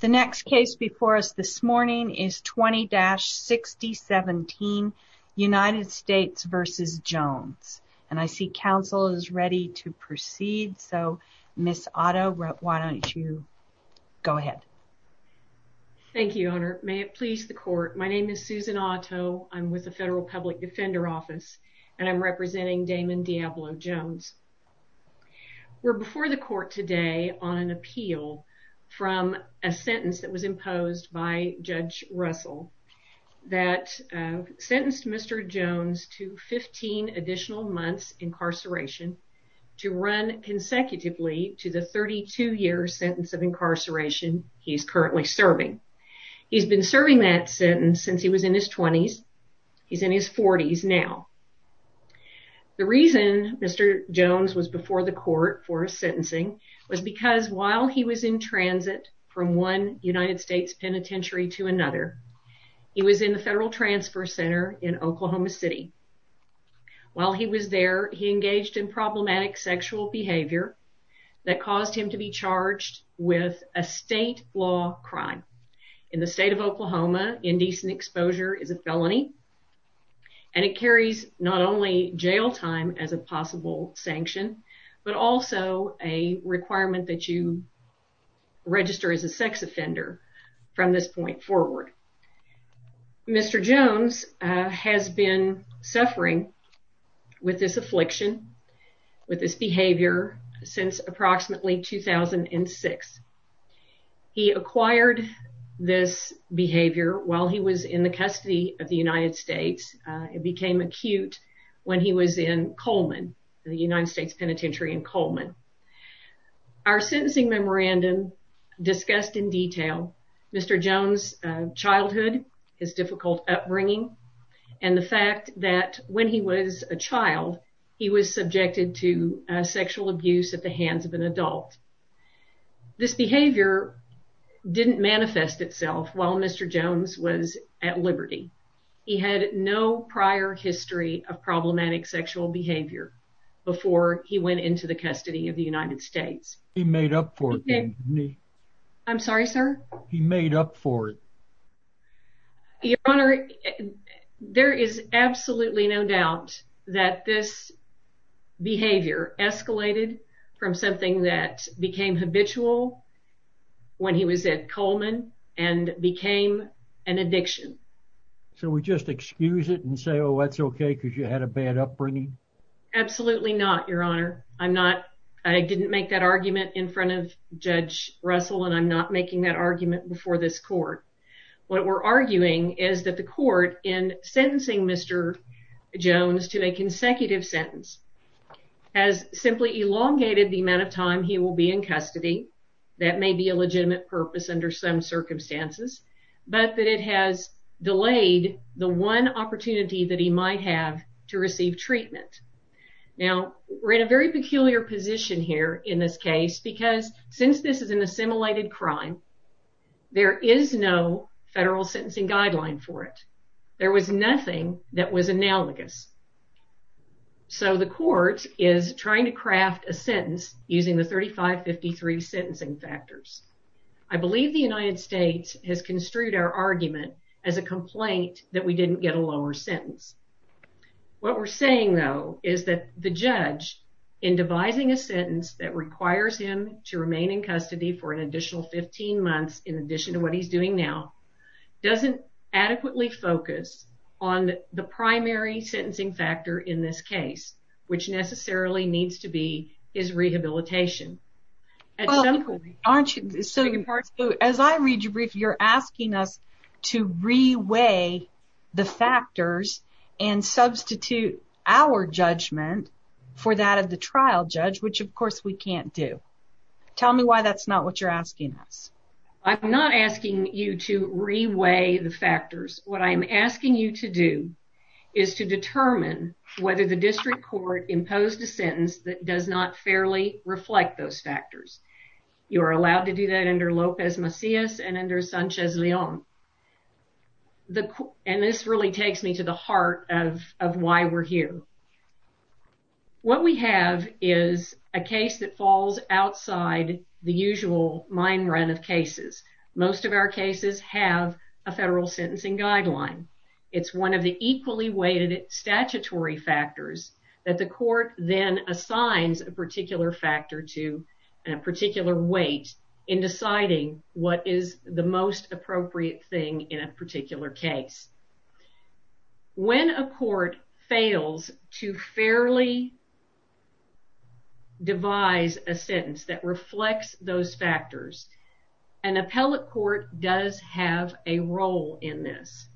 The next case before us this morning is 20-6017 United States v. Jones and I see counsel is ready to proceed so Ms. Otto why don't you go ahead. Thank you Honor may it please the court my name is Susan Otto I'm with the federal public defender office and I'm representing Damon Diablo Jones. We're before the a sentence that was imposed by Judge Russell that sentenced Mr. Jones to 15 additional months incarceration to run consecutively to the 32 year sentence of incarceration he's currently serving. He's been serving that sentence since he was in his 20s he's in his 40s now. The reason Mr. Jones was before the court for sentencing was because while he was in transit from one United States penitentiary to another he was in the Federal Transfer Center in Oklahoma City. While he was there he engaged in problematic sexual behavior that caused him to be charged with a state law crime. In the state of Oklahoma indecent exposure is a felony and it carries not only jail time as a possible sanction but also a requirement that you register as a sex offender from this point forward. Mr. Jones has been suffering with this affliction with this behavior since approximately 2006. He acquired this behavior while he was in the custody of the United States it became acute when he was in Coleman the United States Penitentiary in Coleman. Our sentencing memorandum discussed in detail Mr. Jones childhood his difficult upbringing and the fact that when he was a child he was subjected to sexual abuse at the hands of an adult. This behavior didn't manifest itself while Mr. Jones was at Liberty. He had no prior history of problematic sexual behavior before he went into the custody of the United States. He made up for it didn't he? I'm sorry sir? He made up for it. Your honor there is absolutely no doubt that this behavior escalated from something that became habitual when he was at Coleman and became an addiction. So we just excuse it and say oh that's okay because you had a bad upbringing? Absolutely not your honor. I'm not I didn't make that argument in front of Judge Russell and I'm not making that argument before this court. What we're arguing is that the court in sentencing Mr. Jones to a consecutive sentence has simply elongated the amount of time he will be in custody that may be a legitimate purpose under some circumstances but that it has delayed the one opportunity that he might have to receive treatment. Now we're in a very peculiar position here in this case because since this is an assimilated crime there is no federal sentencing guideline for it. There was nothing that was analogous. So the court is trying to craft a sentence using the 3553 sentencing factors. I believe the United States has construed our argument as a complaint that we didn't get a lower sentence. What we're saying though is that the judge in devising a sentence that requires him to remain in custody for an additional 15 months in addition to what he's doing now doesn't adequately focus on the primary sentencing factor in this case which necessarily needs to be his rehabilitation. As I read your brief you're asking us to reweigh the factors and substitute our judgment for that of the trial judge which of course we can't do. Tell me why that's not what you're asking us. I'm not asking you to reweigh the factors. What I am asking you to do is to determine whether the district court imposed a sentence that does not fairly reflect those factors. You are allowed to do that under Lopez Macias and under Sanchez Leon. And this really takes me to the heart of why we're here. What we have is a case that is a federal sentencing guideline. It's one of the equally weighted statutory factors that the court then assigns a particular factor to a particular weight in deciding what is the most appropriate thing in a particular case. When a court fails to fairly devise a sentence that reflects those factors, an appellate court does have a role in this.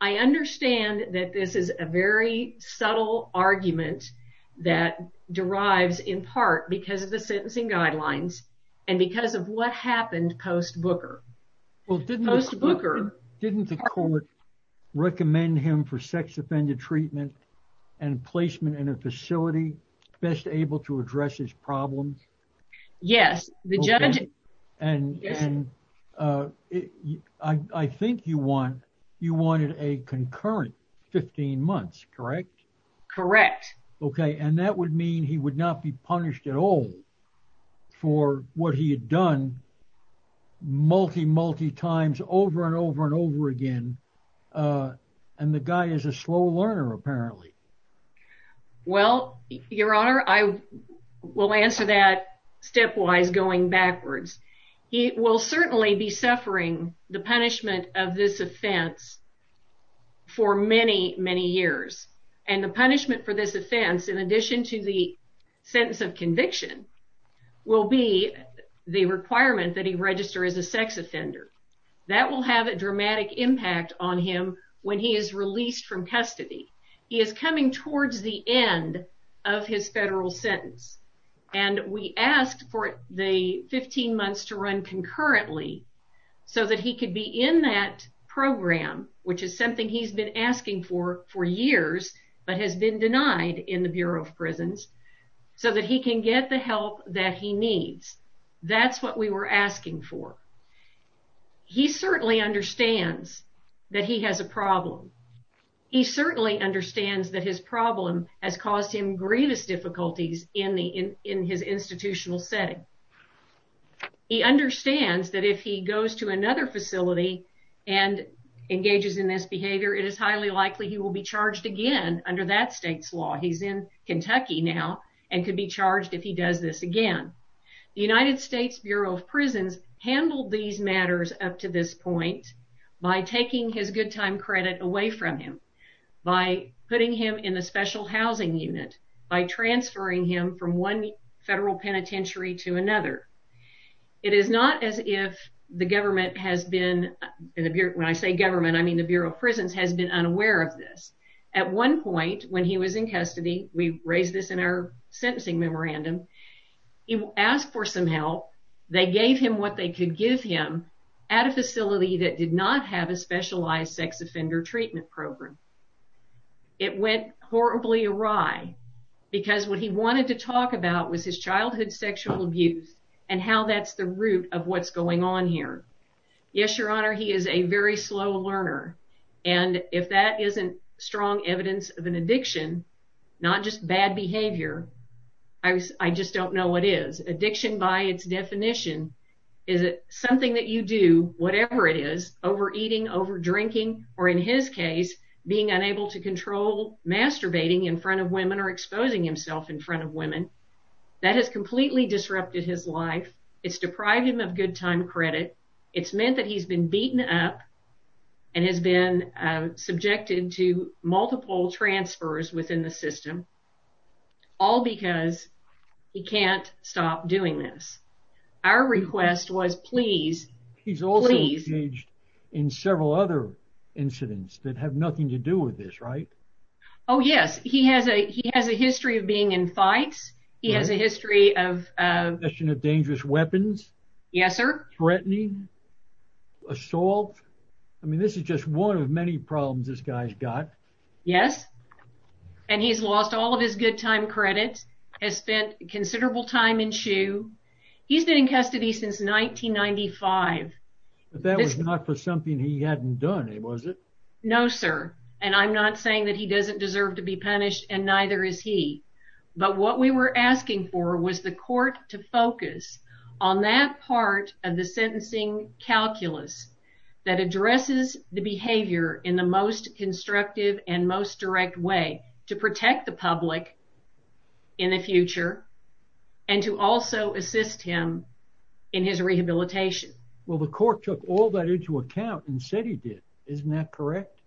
I understand that this is a very subtle argument that derives in part because of the sentencing guidelines and because of what happened post Booker. Didn't the court recommend him for sex offended treatment and placement in a facility best able to address his Uh, I think you want you wanted a concurrent 15 months, correct? Correct. Okay. And that would mean he would not be punished at all for what he had done multi multi times over and over and over again. Uh, and the guy is a slow learner apparently. Well, Your Honor, I will answer that stepwise going backwards. He will certainly be suffering the punishment of this offense for many, many years. And the punishment for this offense, in addition to the sentence of conviction, will be the requirement that he register as a sex offender. That will have a dramatic impact on him when he is released from custody. He is coming towards the end of his federal sentence, and we asked for the 15 months to run concurrently so that he could be in that program, which is something he's been asking for for years but has been denied in the Bureau of Prisons so that he can get the help that he needs. That's what we were asking for. He certainly understands that he has a problem. He certainly understands that his problem has caused him grievous difficulties in the in his institutional setting. He understands that if he goes to another facility and engages in this behavior, it is highly likely he will be charged again under that state's law. He's in Kentucky now and could be charged if he does this again. The United States Bureau of Prisons handled these matters up to this point by taking his good time credit away from him by putting him in the Special Housing Unit, by transferring him from one federal penitentiary to another. It is not as if the government has been, when I say government, I mean the Bureau of Prisons has been unaware of this. At one point when he was in custody, we raised this in our sentencing memorandum, he asked for some help. They gave him what they could give him at a facility that did not have a specialized sex offender treatment program. It went horribly awry because what he wanted to talk about was his childhood sexual abuse and how that's the root of what's going on here. Yes, your honor, he is a very slow learner and if that isn't strong evidence of an addiction, not just bad behavior, I just don't know what is. Addiction by its definition is something that you do, whatever it is, over eating, over drinking, or in his case, being unable to control masturbating in front of women or exposing himself in front of women. That has completely disrupted his life. It's deprived him of good time credit. It's meant that he's been beaten up and has been subjected to multiple transfers within the system, all because he can't stop doing this. Our request was, please, please. He's also engaged in several other incidents that have nothing to do with this, right? Oh, yes. He has a history of being in fights. He has a history of... possession of dangerous weapons. Yes, sir. Threatening, assault. I mean, this is just one of many problems this guy's got. Yes, and he's lost all of his good time credit, has spent considerable time in shoe. He's been in jail since 1995. But that was not for something he hadn't done, was it? No, sir, and I'm not saying that he doesn't deserve to be punished, and neither is he, but what we were asking for was the court to focus on that part of the sentencing calculus that addresses the behavior in the most constructive and most direct way, to protect the public in the future, and to also assist him in his rehabilitation. Well, the court took all that into account and said he did. Isn't that correct?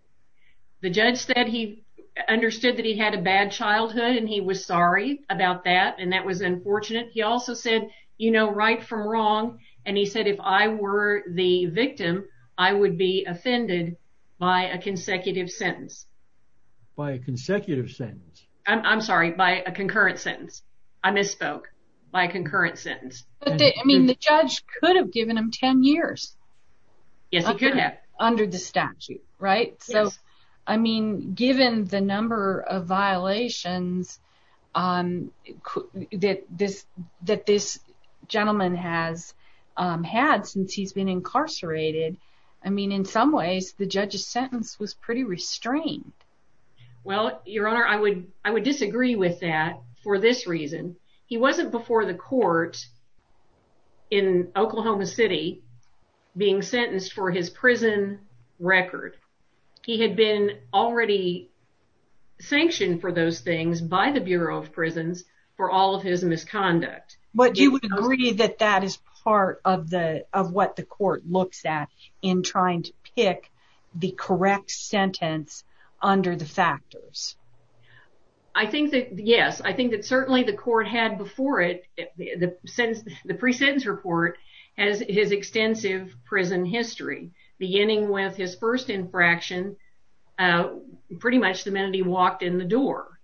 The judge said he understood that he had a bad childhood, and he was sorry about that, and that was unfortunate. He also said, you know, right from wrong, and he said, if I were the victim, I would be offended by a consecutive sentence. By a consecutive sentence? I'm sorry, by a concurrent sentence. I misspoke. By a concurrent sentence. I mean, the judge could have given him ten years. Yes, he could have. Under the statute, right? So, I mean, given the number of violations that this gentleman has had since he's been incarcerated, I mean, in some ways, the judge's sentence was pretty restrained. Well, Your Honor, I would disagree with that for this reason. He wasn't before the court in Oklahoma City being sentenced for his prison record. He had been already sanctioned for those things by the Bureau of Prisons for all of his misconduct. But you would agree that that is part of what the court looks at in trying to pick the correct sentence under the factors. I think that, yes, I think that certainly the court had before it, the pre-sentence report, has his extensive prison history, beginning with his first infraction pretty much the minute he walked in the door,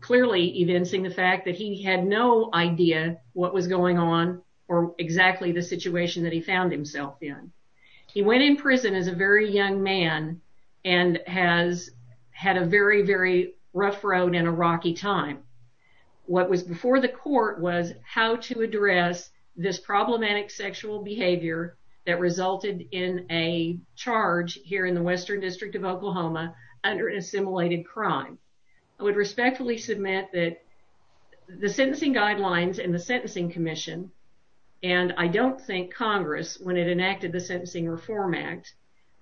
clearly evincing the fact that he had no idea what was going on or exactly the situation that he found himself in. He went in prison as a very young man and has had a very, very rough road and a rocky time. What was before the court was how to address this problematic sexual behavior that resulted in a charge here in the Western District of Oklahoma under assimilated crime. I would respectfully submit that the sentencing guidelines and the Sentencing Commission, and I don't think Congress, when it enacted the Sentencing Reform Act,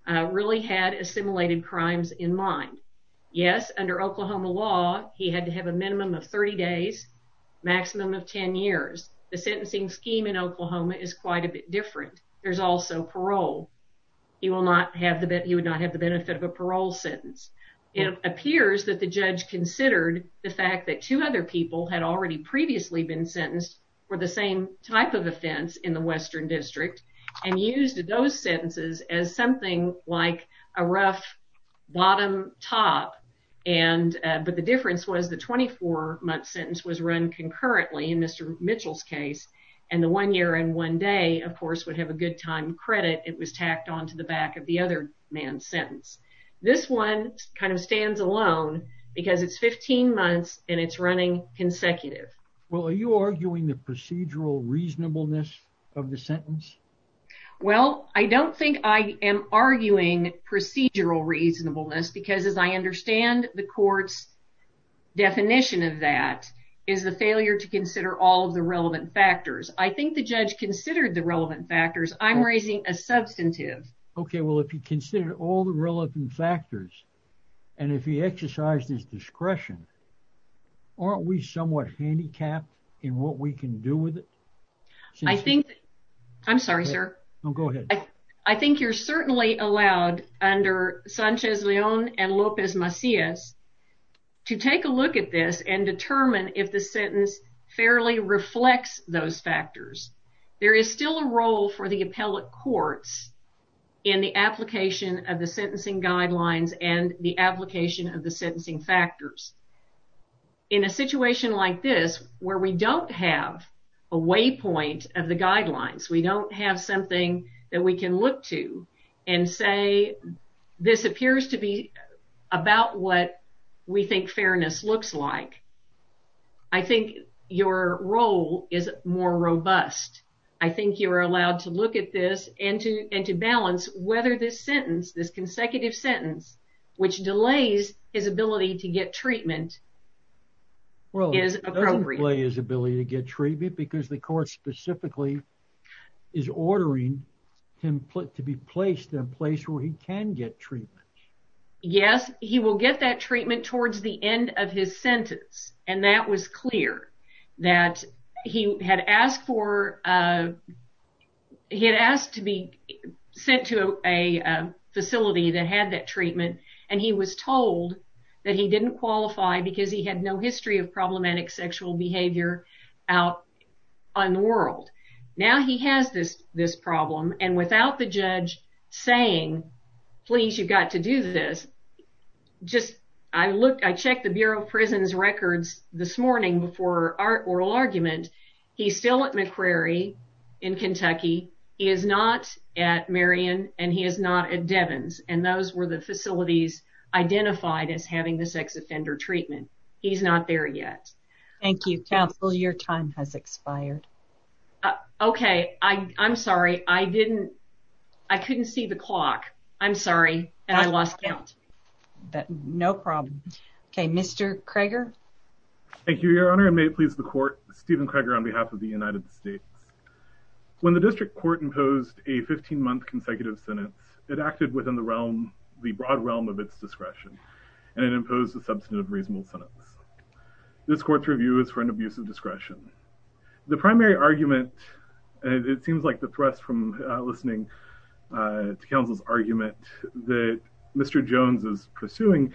really had assimilated crimes in mind. Yes, under Oklahoma law, he had to have a minimum of 30 days, maximum of 10 years. The sentencing scheme in Oklahoma is quite a bit different. There's also parole. He will not have the benefit of a parole sentence. It appears that the judge considered the fact that two other people had already previously been sentenced for the same type of offense in the Western District and used those sentences as something like a rough bottom-top, but the difference was the 24-month sentence was run concurrently in Mr. Mitchell's case, and the one year and one day, of course, would have a good time credit. It was tacked on to the back of the other man's sentence. This one kind of stands alone because it's 15 months and it's running consecutive. Well, are you arguing the procedural reasonableness of the sentence? Well, I don't think I am arguing procedural reasonableness because, as I understand the court's definition of that, is the failure to consider all of the relevant factors. I think the judge considered the relevant factors. I'm considering all the relevant factors, and if he exercised his discretion, aren't we somewhat handicapped in what we can do with it? I think, I'm sorry, sir. Go ahead. I think you're certainly allowed under Sanchez-Leon and Lopez Macias to take a look at this and determine if the sentence fairly reflects those factors. There is still a role for the appellate courts in the application of the sentencing guidelines and the application of the sentencing factors. In a situation like this, where we don't have a waypoint of the guidelines, we don't have something that we can look to and say, this appears to be about what we think fairness looks like, I think your role is more robust. I believe this sentence, this consecutive sentence, which delays his ability to get treatment, is appropriate. Well, it doesn't delay his ability to get treatment because the court specifically is ordering him to be placed in a place where he can get treatment. Yes, he will get that treatment towards the end of his sentence, and that was clear, that he had asked to be sent to a facility that had that treatment, and he was told that he didn't qualify because he had no history of problematic sexual behavior out on the world. Now he has this problem, and without the judge saying, please, you've got to do this, just, I checked the morning before our oral argument, he's still at McCrary in Kentucky, he is not at Marion, and he is not at Devins, and those were the facilities identified as having the sex offender treatment. He's not there yet. Thank you, counsel, your time has expired. Okay, I'm sorry, I didn't, I couldn't see the clock, I'm sorry, and I lost count. No problem. Okay, Mr. Krager. Thank you, Your Honor, and may it please the court, Steven Krager on behalf of the United States. When the district court imposed a 15-month consecutive sentence, it acted within the realm, the broad realm of its discretion, and it imposed a substantive reasonable sentence. This court's review is for an abuse of discretion. The primary counsel's argument that Mr. Jones is pursuing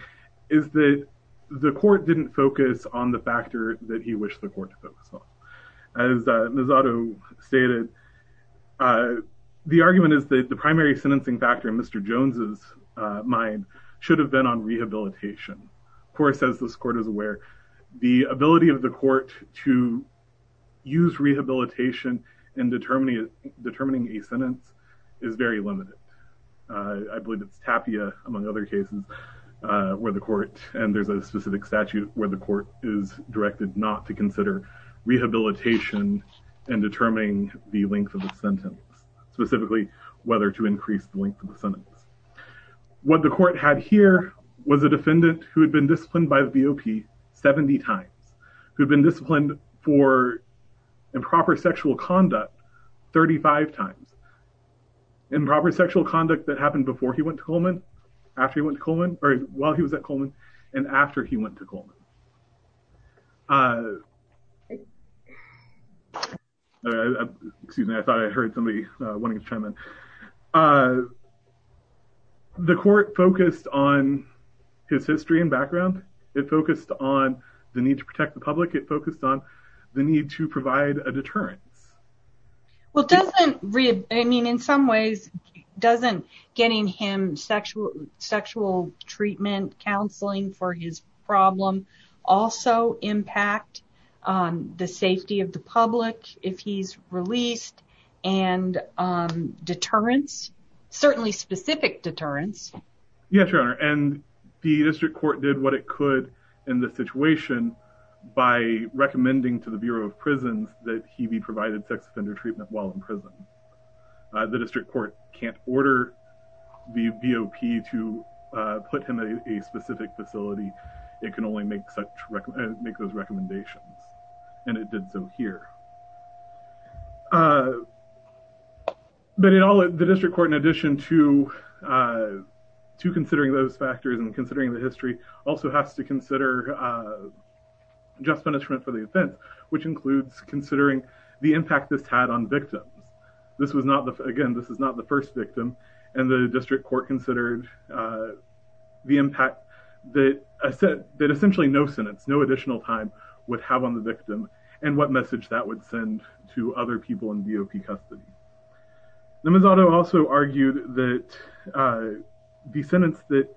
is that the court didn't focus on the factor that he wished the court to focus on. As Ms. Otto stated, the argument is that the primary sentencing factor in Mr. Jones's mind should have been on rehabilitation. Of course, as this court is aware, the ability of the court to use rehabilitation in determining a sentence is very limited. I believe it's Tapia, among other cases, where the court, and there's a specific statute where the court is directed not to consider rehabilitation in determining the length of the sentence, specifically whether to increase the length of the sentence. What the court had here was a defendant who had been disciplined by the BOP 70 times, who had been disciplined for improper sexual conduct 35 times, improper sexual conduct that happened before he went to Coleman, after he went to Coleman, or while he was at Coleman, and after he went to Coleman. Excuse me, I thought I heard somebody wanting to chime in. The court focused on his history and background. It focused on the need to provide a deterrence. In some ways, doesn't getting him sexual treatment counseling for his problem also impact the safety of the public if he's released and deterrence, certainly specific deterrence? Yes, Your Honor. The by recommending to the Bureau of Prisons that he be provided sex offender treatment while in prison. The district court can't order the BOP to put him in a specific facility. It can only make those recommendations, and it did so here. But in all, the district court, in addition to considering those factors and considering the history, also has to consider just punishment for the offense, which includes considering the impact this had on victims. Again, this is not the first victim, and the district court considered the impact that essentially no sentence, no additional time would have on the victim, and what message that would to other people in BOP custody. Nemezato also argued that the sentence that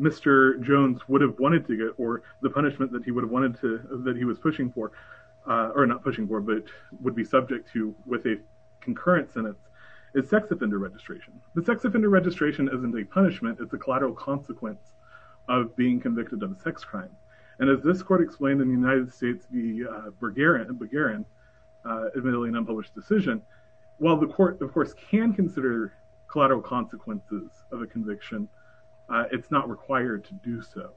Mr. Jones would have wanted to get, or the punishment that he would have wanted to, that he was pushing for, or not pushing for, but would be subject to with a concurrent sentence, is sex offender registration. The sex offender registration isn't a punishment, it's a collateral consequence of being convicted of a sex crime. And as this court explained in the United States v. Bergeron, admittedly an unpublished decision, while the court, of course, can consider collateral consequences of a conviction, it's not required to do so.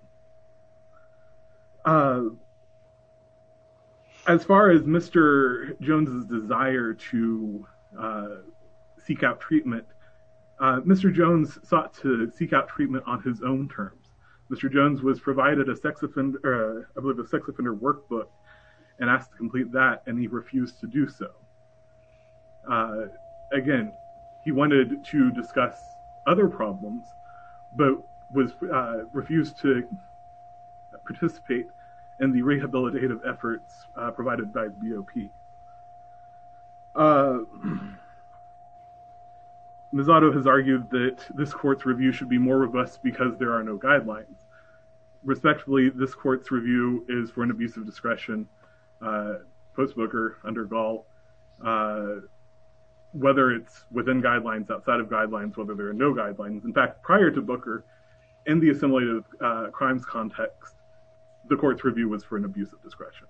As far as Mr. Jones's desire to seek out treatment, Mr. Jones sought to seek out a sex offender workbook and asked to complete that, and he refused to do so. Again, he wanted to discuss other problems, but refused to participate in the rehabilitative efforts provided by BOP. Nemezato has argued that this court's review should be more robust because there are no guidelines. Respectfully, this court's review is for an abuse of discretion post-Booker, under Gall, whether it's within guidelines, outside of guidelines, whether there are no guidelines. In fact, prior to Booker, in the assimilative crimes context, the court's review was for an abuse of discretion.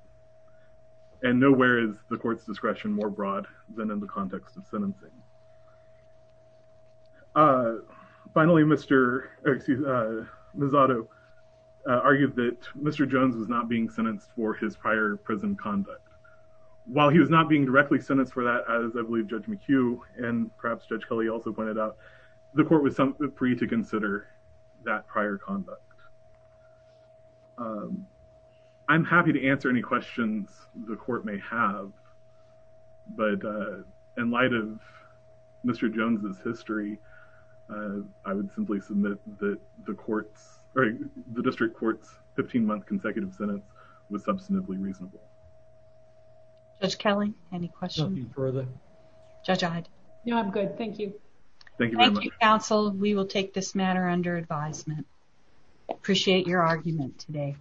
And nowhere is the court's discretion more broad than in the context of sentencing. Finally, Mr. Nemezato argued that Mr. Jones was not being sentenced for his prior prison conduct. While he was not being directly sentenced for that, as I believe Judge McHugh and perhaps Judge Kelly also pointed out, the court was free to consider that prior conduct. I'm happy to answer any questions the court may have, but in light of Mr. Jones' history, I would simply submit that the district court's 15-month consecutive sentence was substantively reasonable. Judge Kelly, any questions? Nothing further. Judge Ide? No, I'm good. Thank you. Thank you, counsel. We will take this matter under advisement. Appreciate your argument today.